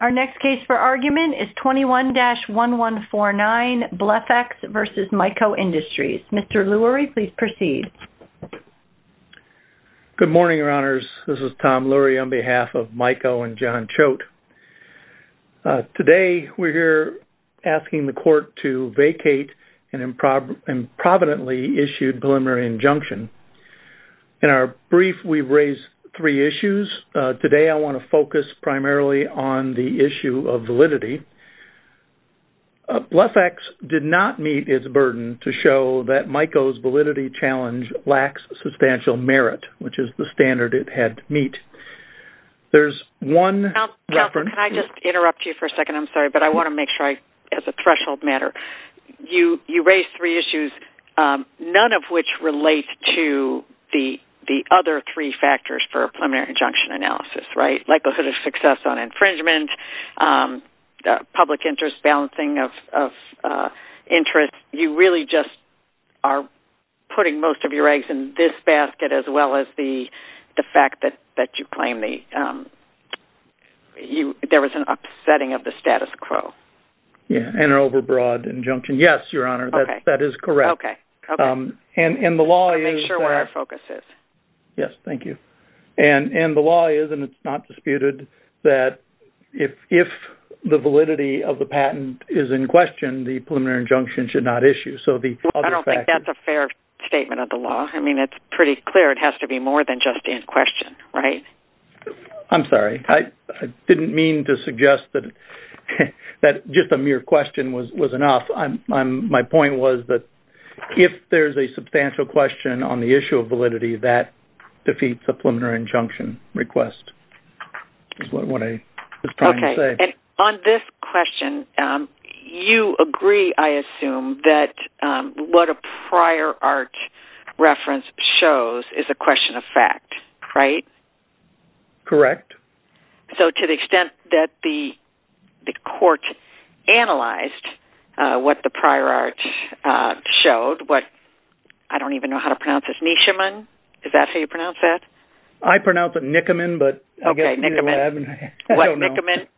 Our next case for argument is 21-1149, BlephEx v. Myco Industries. Mr. Lurie, please proceed. Good morning, Your Honors. This is Tom Lurie on behalf of Myco and John Choate. Today, we're here asking the Court to vacate an improvidently issued preliminary injunction. In our brief, we've raised three issues. Today, I want to focus primarily on the issue of validity. BlephEx did not meet its burden to show that Myco's validity challenge lacks substantial merit, which is the standard it had to meet. There's one reference- Counselor, can I just interrupt you for a second? I'm sorry, but I want to make sure as a threshold matter. You raised three issues, none of which relate to the other three factors for a preliminary injunction analysis, right? Likelihood of success on infringement, public interest, balancing of interest. You really just are putting most of your eggs in this basket as well as the fact that you claim there was an upsetting of the status quo. Yeah, and an overbroad injunction. Yes, Your Honor, that is correct. Okay. I'll make sure where our focus is. Yes, thank you. The law is, and it's not disputed, that if the validity of the patent is in question, the preliminary injunction should not issue. I don't think that's a fair statement of the law. I mean, it's pretty clear it has to be more than just in question, right? I'm sorry. I didn't mean to suggest that just a mere question was enough. My point was that if there's a substantial question on the issue of validity, that defeats a preliminary injunction request. That's what I was trying to say. Okay. On this question, you agree, I assume, that what a prior art reference shows is a correct? So, to the extent that the court analyzed what the prior art showed, what, I don't even know how to pronounce this, Nishiman? Is that how you pronounce that? I pronounce it Nikoman, but I'll get into that. Okay, Nikoman. What Nikoman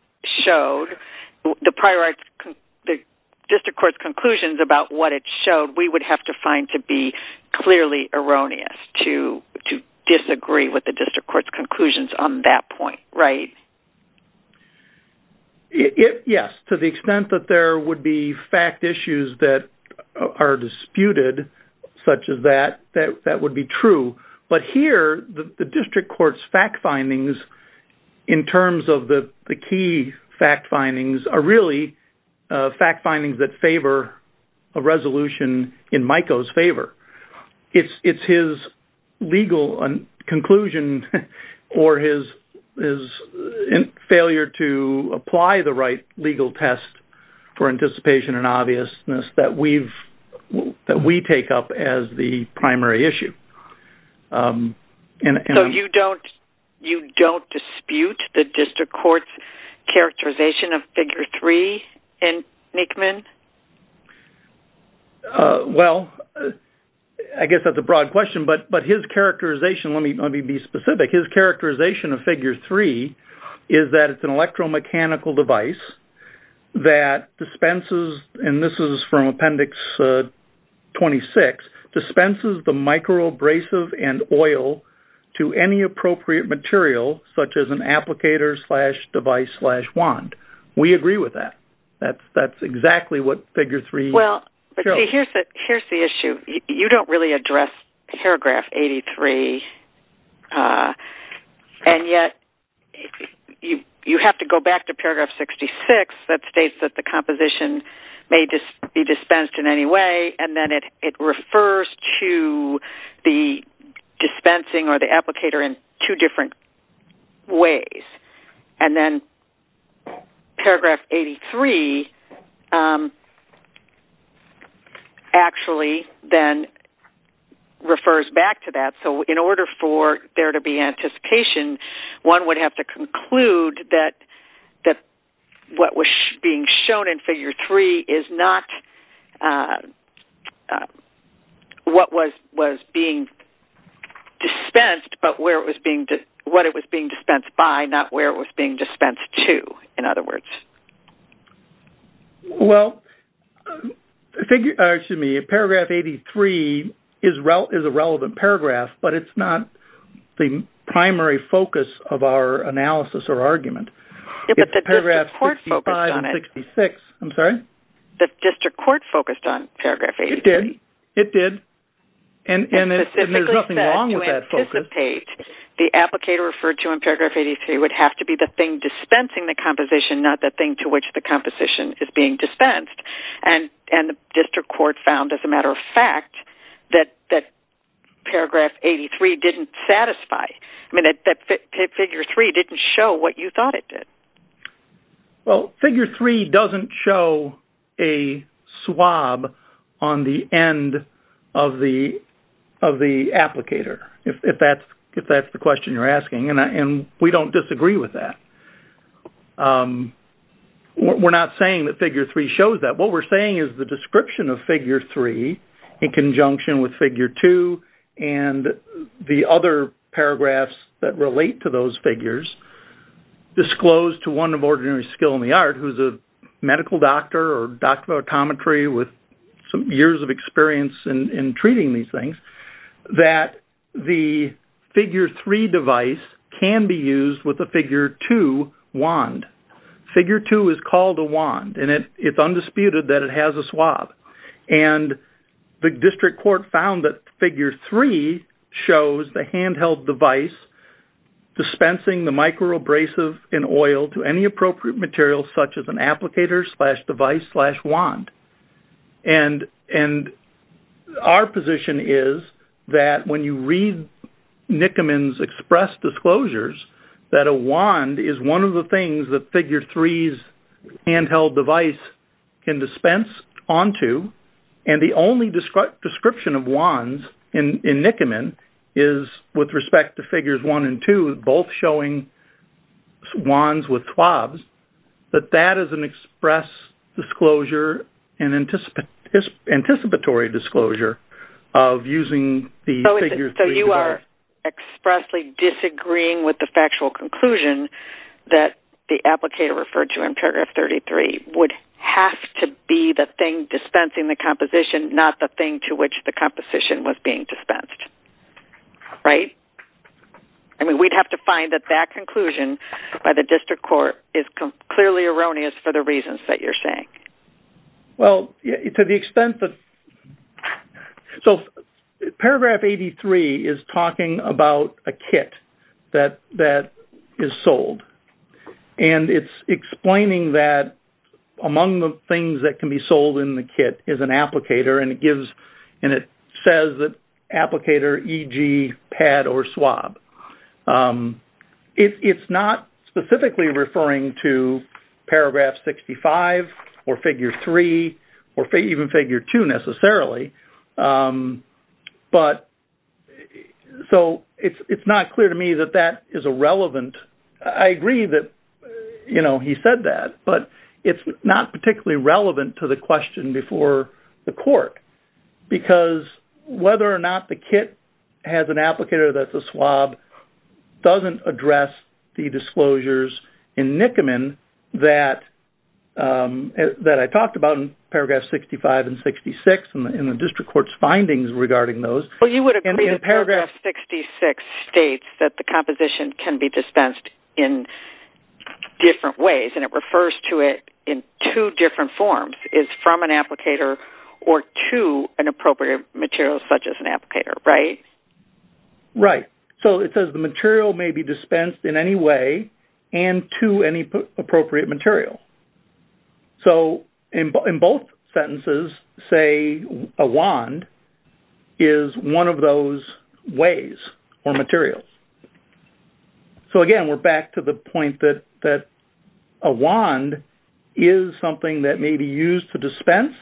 showed, the prior art, the district court's conclusions about what it showed, we would have to find to be conclusions on that point, right? Yes. To the extent that there would be fact issues that are disputed, such as that, that would be true. But here, the district court's fact findings, in terms of the key fact findings, are really fact findings that favor a resolution in Mico's favor. It's his legal conclusion or his failure to apply the right legal test for anticipation and obviousness that we take up as the primary issue. So, you don't dispute the district court's characterization of figure three in Nikoman? Well, I guess that's a broad question, but his characterization, let me be specific, his characterization of figure three is that it's an electromechanical device that dispenses, and this is from appendix 26, dispenses the microabrasive and oil to any appropriate material, such as an applicator slash device slash wand. We agree with that. That's exactly what figure three shows. Well, here's the issue. You don't really address paragraph 83, and yet you have to go back to paragraph 66 that states that the composition may just be dispensed in any way, and then it refers to the dispensing or the applicator in two different ways, and then paragraph 83 actually then refers back to that. So, in order for there to be anticipation, one would have to conclude that what was being shown in figure three is not what was being dispensed, but what it was being dispensed by, not where it was being dispensed to, in other words. Well, excuse me, paragraph 83 is a relevant paragraph, but it's not the primary focus of our analysis or argument. Yeah, but the district court focused on it. I'm sorry? The district court focused on paragraph 83. It did. It did. And there's nothing wrong with that focus. To anticipate, the applicator referred to in paragraph 83 would have to be the thing dispensing the composition, not the thing to which the composition is being dispensed, and the district court found, as a matter of fact, that paragraph 83 didn't satisfy. I mean, that figure three didn't show what you thought it did. Well, figure three doesn't show a swab on the end of the applicator, if that's the question you're asking, and we don't disagree with that. We're not saying that figure three shows that. What we're saying is the description of figure three, in conjunction with figure two and the other paragraphs that relate to those figures, disclosed to one of ordinary skill in the art, who's a medical doctor or doctor of optometry with some years of experience in treating these things, that the figure three device can be used with a figure two wand. Figure two is called a wand, and it's undisputed that it has a swab. And the district court found that figure three shows the handheld device dispensing the micro abrasive in oil to any appropriate material, such as an applicator slash device slash wand. And our position is that when you read Nickerman's express disclosures, that a wand is one of the things that figure three's handheld device can dispense onto, and the only description of wands in Nickerman is with respect to figures one and two, both showing wands with swabs, that that is an express disclosure and anticipatory disclosure of using the figure three device. So you are expressly disagreeing with the factual conclusion that the applicator referred to in paragraph 33 would have to be the thing dispensing the composition, not the thing to which the composition was being dispensed, right? I mean, we'd have to find that that conclusion by the clearly erroneous for the reasons that you're saying. Well, to the extent that... So paragraph 83 is talking about a kit that is sold, and it's explaining that among the things that can be sold in the kit is an applicator, and it and it says that applicator, e.g., pad or swab. It's not specifically referring to paragraph 65 or figure three or even figure two necessarily. So it's not clear to me that that is a relevant... I agree that he said that, but it's not particularly relevant to the question before the court, because whether or not the kit has an applicator that's a swab doesn't address the disclosures in Nickerman that I talked about in paragraphs 65 and 66 in the district court's findings regarding those. Well, you would agree that paragraph 66 states that the composition can be dispensed in different ways, and it refers to it in two different forms, is from an applicator or to an appropriate material such as an applicator, right? Right. So it says the material may be dispensed in any way and to any appropriate material. So in both sentences, say a wand is one of those ways or materials. So, again, we're back to the point that a wand is something that may be used to dispense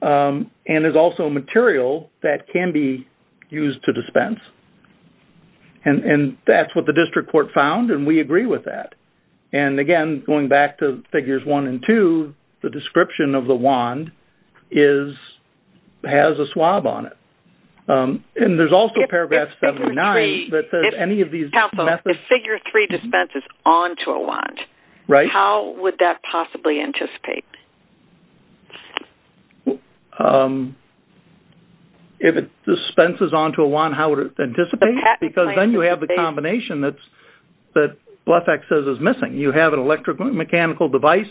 and is also a material that can be used to dispense. And that's what the district court found, and we agree with that. And, again, going back to figures one and two, the description of the wand is, has a swab on it. And there's also paragraph 79 that says any of these... Counsel, if figure three dispenses onto a wand, how would that possibly anticipate? If it dispenses onto a wand, how would it anticipate? Because then you have the combination that Blefax says is missing. You have an electromechanical device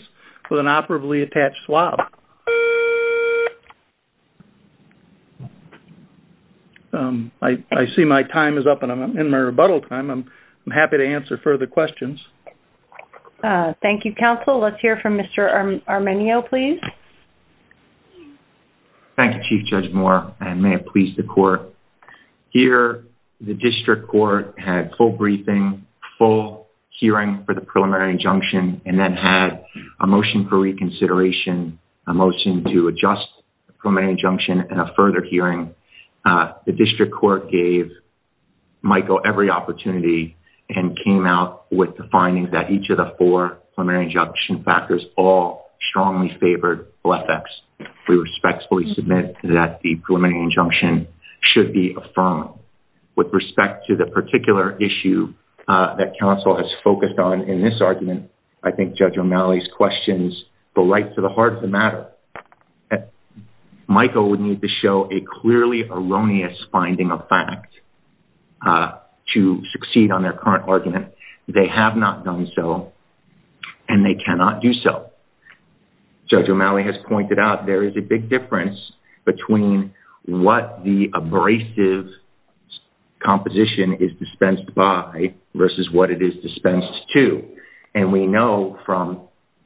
with an operably attached swab. I see my time is up and I'm in my rebuttal time. I'm happy to answer further questions. Thank you, Counsel. Let's hear from Mr. Armenio, please. Thank you, Chief Judge Moore, and may it please the court. Here, the district court had full a motion to adjust the preliminary injunction at a further hearing. The district court gave Michael every opportunity and came out with the findings that each of the four preliminary injunction factors all strongly favored Blefax. We respectfully submit that the preliminary injunction should be affirmed. With respect to the particular issue that Counsel has focused on in this argument, I think Judge O'Malley's questions go right to the heart of the matter. Michael would need to show a clearly erroneous finding of fact to succeed on their current argument. They have not done so and they cannot do so. Judge O'Malley has pointed out there is a big difference between what the abrasive composition is dispensed by versus what it is dispensed to. We know from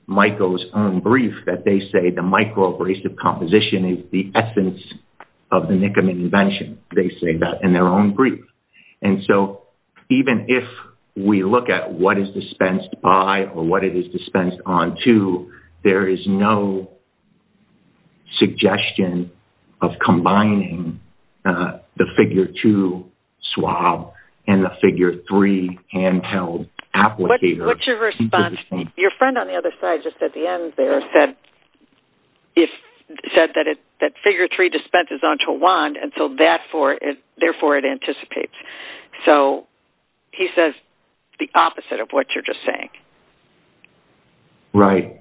Michael's own brief that they say the micro-abrasive composition is the essence of the Nickeman invention. They say that in their own brief. Even if we look at what is dispensed by or what it is dispensed onto, there is no suggestion of combining the figure 2 swab and the figure 3 hand-held applicator. What is your response? Your friend on the other side said that figure 3 dispenses onto a wand and therefore it anticipates. He says the opposite of what you are just saying. Right.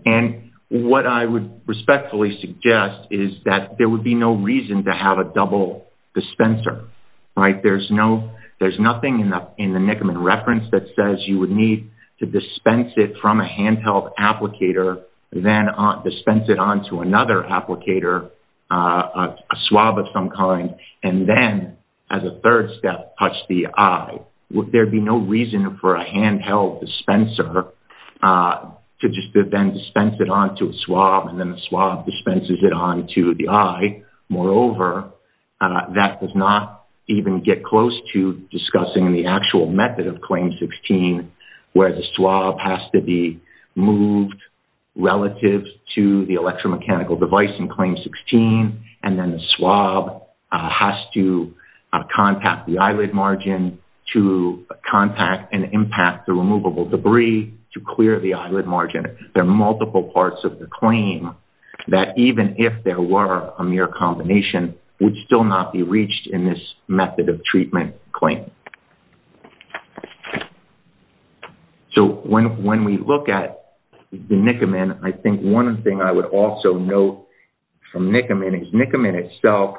What I would respectfully suggest is that there would be no reason to have a double dispenser. There is nothing in the Nickeman reference that says you would need to dispense it from a hand-held applicator and then dispense it onto another applicator, a swab of some kind, and then as a third step touch the eye. There would be no reason for a hand-held dispenser to just then dispense it onto a swab and then the swab dispenses it onto the eye. Moreover, that does not even get close to discussing the actual method of Claim 16 where the swab has to move relative to the electromechanical device in Claim 16 and then the swab has to contact the eyelid margin to contact and impact the removable debris to clear the eyelid margin. There are multiple parts of the claim that even if there were a mere combination would still not be reached in this method of treatment claim. When we look at the Nickeman, I think one thing I would also note from Nickeman is Nickeman itself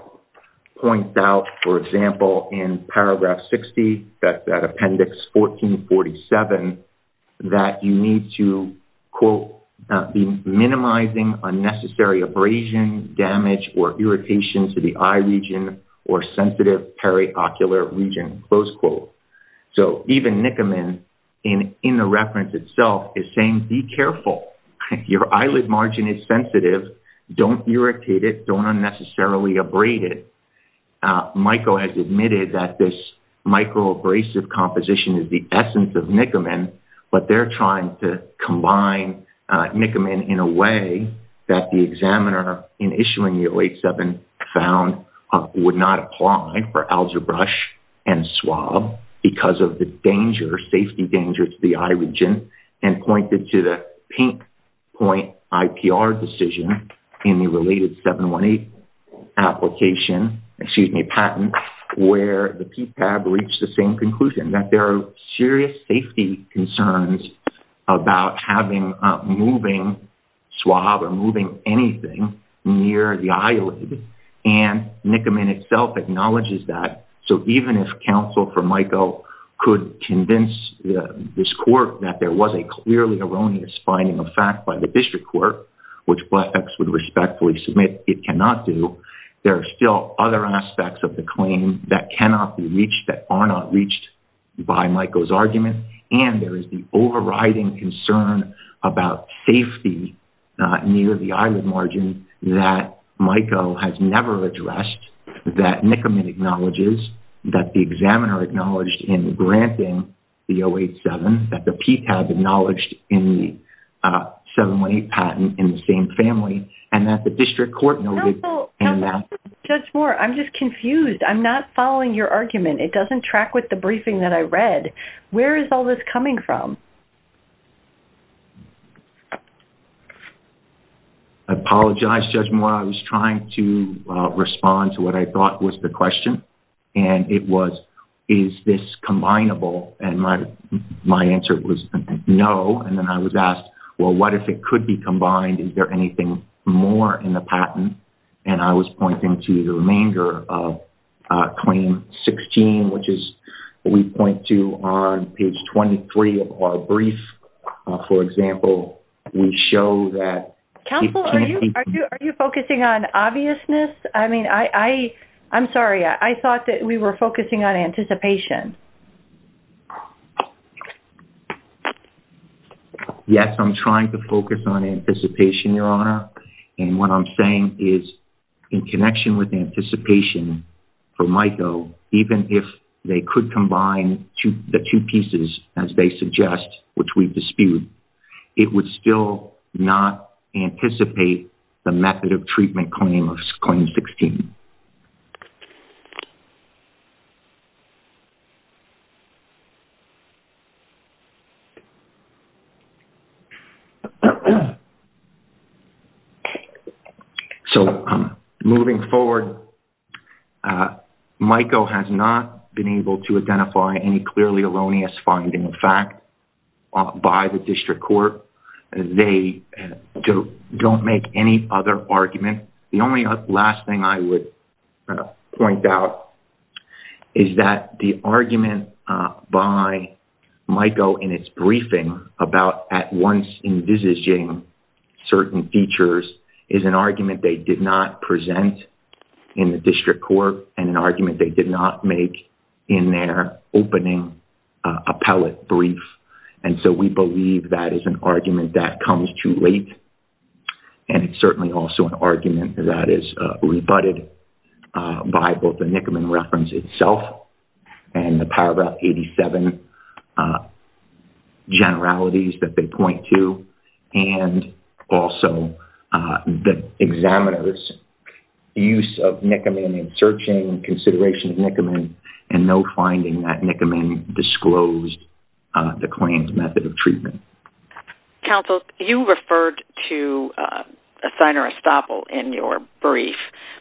points out, for example, in paragraph 60, that appendix 1447, that you need to, quote, be minimizing unnecessary abrasion, damage, or irritation to the eye region or sensitive periocular region, close quote. So even Nickeman in the reference itself is saying be careful. Your eyelid margin is sensitive. Don't irritate it. Don't unnecessarily abrade it. Michael has admitted that this microabrasive composition is the essence of Nickeman, but they're trying to combine Nickeman in a way that the examiner in issuing the 087 found would not apply for algebra brush and swab because of the danger, safety danger, to the eye region and pointed to the pink point IPR decision in the related 718 application, excuse me, patent, where the PPAB reached the same conclusion, that there are serious safety concerns about having a moving swab or moving anything near the eyelid. And Nickeman itself acknowledges that. So even if counsel for Michael could convince this court that there was a clearly erroneous finding of fact by the district court, which Blackfex would respectfully submit it cannot do, there are still other aspects of the claim that cannot be reached that are not reached by Michael's argument. And there is the overriding concern about safety near the eyelid margin that Michael has never addressed, that Nickeman acknowledges, that the examiner acknowledged in granting the 087, that the PPAB acknowledged in the 718 patent in the same family, and that the district court noted. Counsel, judge Moore, I'm just confused. I'm not following your argument. It doesn't track with the briefing that I read. Where is all this coming from? I apologize, Judge Moore. I was trying to respond to what I thought was the question. And it was, is this combinable? And my answer was no. And then I was asked, well, what if it could be combined? Is there anything more in the patent? And I was pointing to the 718, which is what we point to on page 23 of our brief. For example, we show that... Counsel, are you focusing on obviousness? I mean, I'm sorry. I thought that we were focusing on anticipation. Yes, I'm trying to focus on anticipation, Your Honor. And what I'm saying is in connection with anticipation for Michael, even if they could combine the two pieces as they suggest, which we dispute, it would still not anticipate the method of treatment claim of claim 16. So moving forward, Michael has not been able to identify any clearly erroneous finding of fact by the district court. They don't make any other argument. The only last thing I would point out is that the argument by Michael in its briefing about at once envisaging certain features is an argument they did not present in the district court and an appellate brief. And so we believe that is an argument that comes too late. And it's certainly also an argument that is rebutted by both the Nickerman reference itself and the paragraph 87 generalities that they point to. And also the examiner's use of Nickerman searching and consideration of Nickerman and no finding that Nickerman disclosed the claims method of treatment. Counsel, you referred to a signer estoppel in your brief,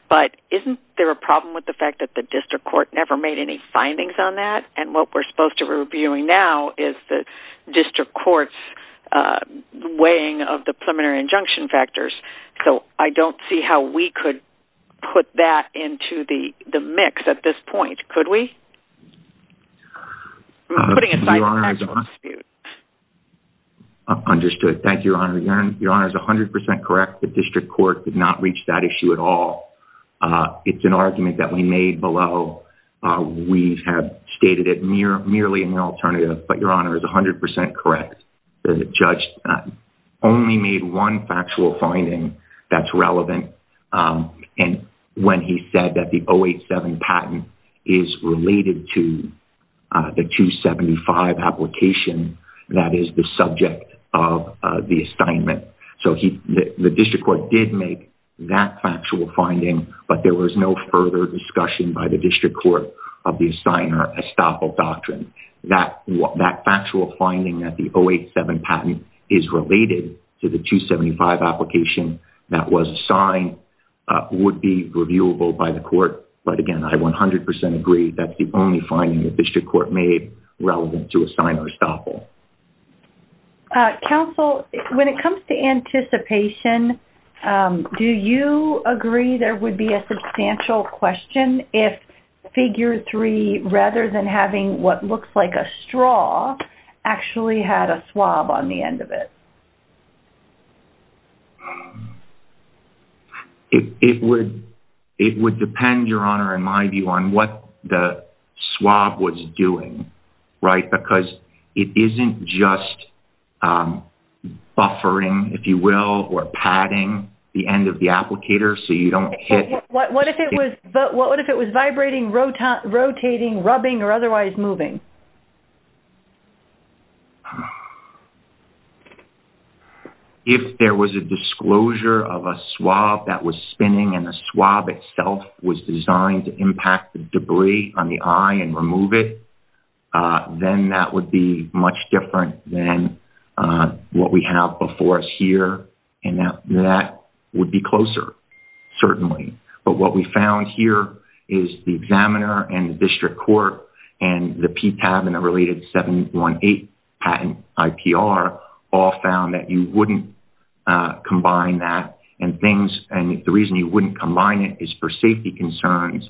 but isn't there a problem with the fact that the district court never made any findings on that? And what we're supposed to be reviewing now is the district court's weighing of the preliminary injunction factors. So I don't see how we could put that into the mix at this point. Could we? Understood. Thank you, Your Honor. Your Honor is 100% correct. The district court did not reach that issue at all. It's an argument that we made below. We have stated it merely in the alternative, but Your Honor is 100% correct. The judge only made one factual finding that's relevant. And when he said that the 087 patent is related to the 275 application, that is the subject of the assignment. So the district court did make that factual finding, but there was no further discussion by the district court of the signer estoppel doctrine. That factual finding that the 087 patent is related to the 275 application that was assigned would be reviewable by the court. But again, I 100% agree that's the only finding the district court made relevant to a signer estoppel. Uh, counsel, when it comes to anticipation, um, do you agree there would be a substantial question if figure three, rather than having what looks like a straw actually had a swab on the end of it? It, it would, it would depend, Your Honor, in my view on what the swab was doing, right? Because it isn't just, um, buffering, if you will, or padding the end of the applicator. So you don't hit what, what if it was vibrating, rotating, rubbing, or otherwise moving? If there was a disclosure of a swab that was spinning and the swab itself was designed to much different than, uh, what we have before us here. And now that would be closer certainly, but what we found here is the examiner and the district court and the P tab and the related 718 patent IPR all found that you wouldn't, uh, combine that and things. And the reason you wouldn't combine it is for safety concerns.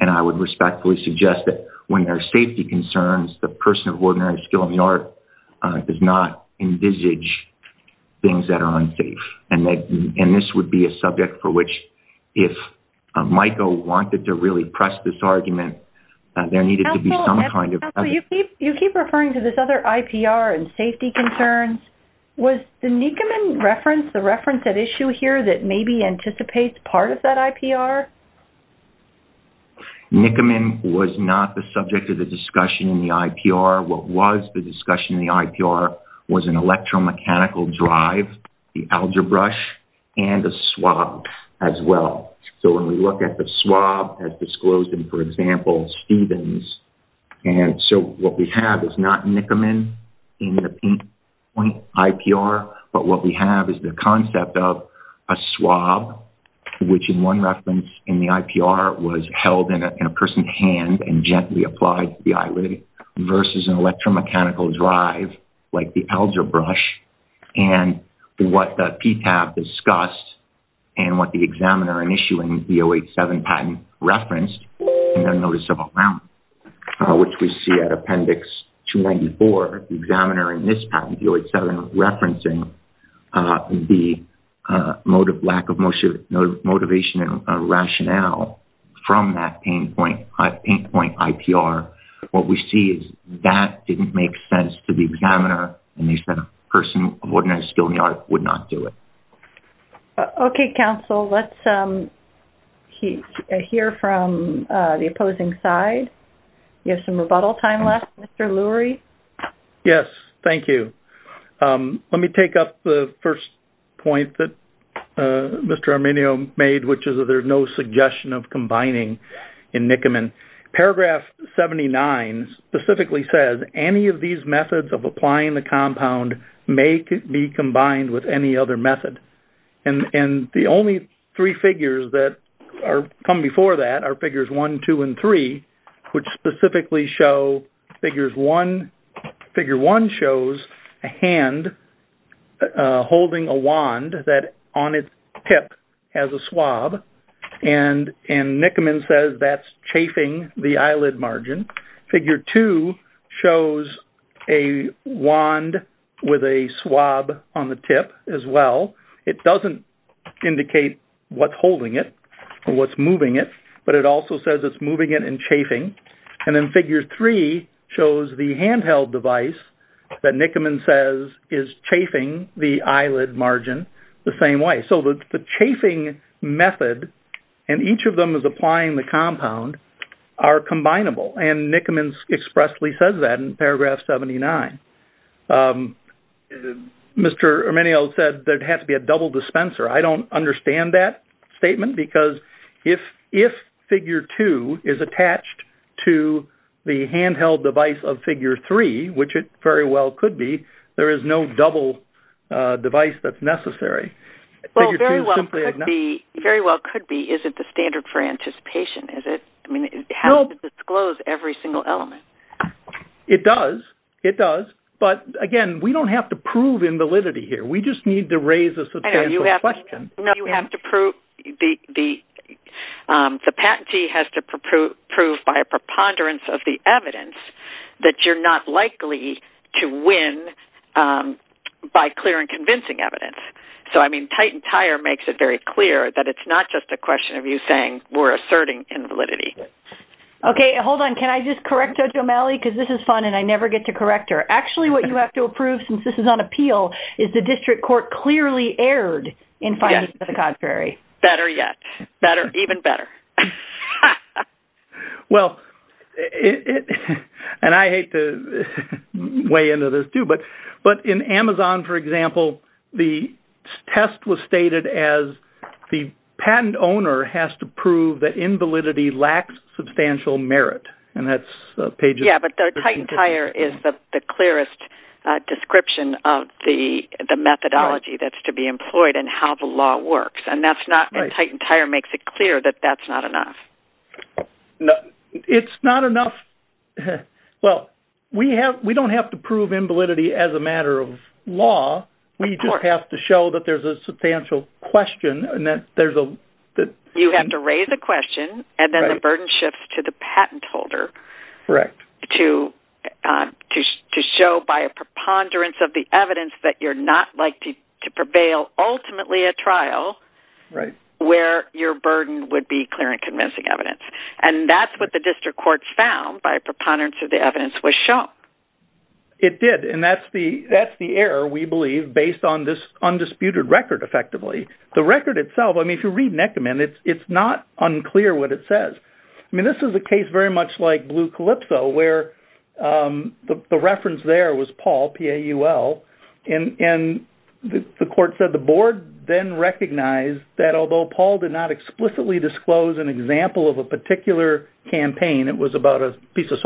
And I would respectfully suggest that when there's a disclosure of an IPR, the district court does not envisage things that are unsafe. And that, and this would be a subject for which, if Michael wanted to really press this argument, there needed to be some kind of... Counselor, you keep, you keep referring to this other IPR and safety concerns. Was the Nikkerman reference, the reference at issue here that maybe anticipates part of that IPR? Nikkerman was not the subject of the discussion in the IPR. What was the discussion in the IPR was an electromechanical drive, the algebra and the swab as well. So when we look at the swab as disclosed in, for example, Stevens. And so what we have is not Nikkerman in the point IPR, but what we have is the concept of a swab, which in one reference in the IPR was held in a person's hand and gently applied to the eyelid versus an electromechanical drive, like the algebra brush and what the PTAB discussed and what the examiner in issuing the 087 patent referenced in their discussion, the lack of motivation and rationale from that pain point IPR. What we see is that didn't make sense to the examiner. And they said a person of ordinary skill in the art would not do it. Okay. Counsel, let's hear from the opposing side. You have some rebuttal time left, Mr. Lurie. Yes. Thank you. Let me take up the first point that Mr. Arminio made, which is that there's no suggestion of combining in Nikkerman. Paragraph 79 specifically says any of these methods of applying the compound may be combined with any other method. And the only three figures that come before that are figures one, two, and three, which specifically show figures one, figure one shows a hand holding a wand that on its tip has a swab. And Nikkerman says that's chafing the eyelid margin. Figure two shows a wand with a swab on the tip as well. It doesn't indicate what's holding it or what's moving it, but it also says it's moving it and chafing. And then figure three shows the handheld device that Nikkerman says is chafing the eyelid margin the same way. So the chafing method, and each of them is applying the compound are combinable. And Nikkerman expressly says that in paragraph 79. Mr. Arminio said there'd have to be a double dispenser. I don't understand that statement because if figure two is attached to the handheld device of figure three, which it very well could be, there is no double device that's necessary. Well, very well could be. Very well could be. Is it the standard for anticipation? Is it, how does it disclose every single element? It does. It does. But again, we don't have to prove invalidity here. We just need to raise a substantial question. No, you have to prove, the patentee has to prove by a preponderance of the evidence that you're not likely to win by clear and convincing evidence. So, I mean, Titantire makes it very clear that it's not just a question of you saying we're asserting invalidity. Okay. Hold on. Can I just correct Judge O'Malley? Because this is fun and I never get to correct her. Actually, what you have to approve, since this is on appeal, is the district court clearly erred in finding the contrary. Better yet. Better, even better. Well, and I hate to weigh into this too, but in Amazon, for example, the test was stated as the patent owner has to prove that invalidity lacks substantial merit. And that's pages- Yeah, but Titantire is the clearest description of the methodology that's to be employed and how the law works. And that's not, and Titantire makes it clear that that's not enough. It's not enough. Well, we don't have to prove invalidity as a matter of the- You have to raise a question and then the burden shifts to the patent holder to show by a preponderance of the evidence that you're not likely to prevail ultimately at trial where your burden would be clear and convincing evidence. And that's what the district court found by a preponderance of the evidence was shown. It did. And that's the error we believe based on this undisputed record effectively. The record itself, I mean, if you read Nekoman, it's not unclear what it says. I mean, this is a case very much like Blue Calypso where the reference there was Paul, P-A-U-L. And the court said the board then recognized that although Paul did not explicitly disclose an example of a particular campaign, it was about a piece of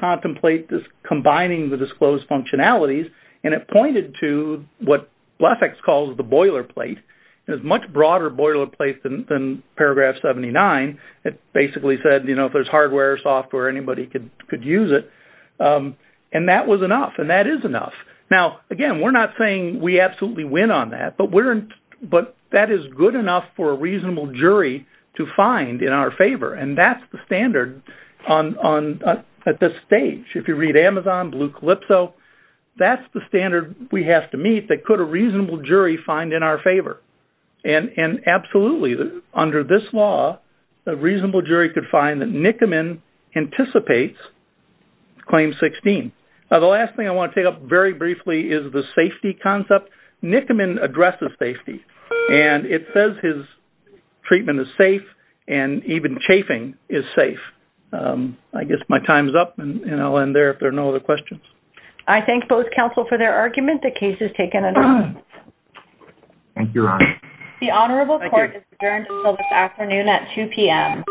contemplate combining the disclosed functionalities. And it pointed to what Blefex calls the boiler plate. It was a much broader boiler plate than paragraph 79. It basically said, you know, if there's hardware or software, anybody could use it. And that was enough. And that is enough. Now, again, we're not saying we absolutely win on that, but that is good enough for a reasonable If you read Amazon, Blue Calypso, that's the standard we have to meet that could a reasonable jury find in our favor. And absolutely, under this law, a reasonable jury could find that Nekoman anticipates claim 16. Now, the last thing I want to take up very briefly is the safety concept. Nekoman addresses safety. And it says his treatment is safe and even chafing is safe. I guess my time's up and I'll end there if there are no other questions. I thank both counsel for their argument. The case is taken. Thank you. The Honorable Court is adjourned until this afternoon at 2pm.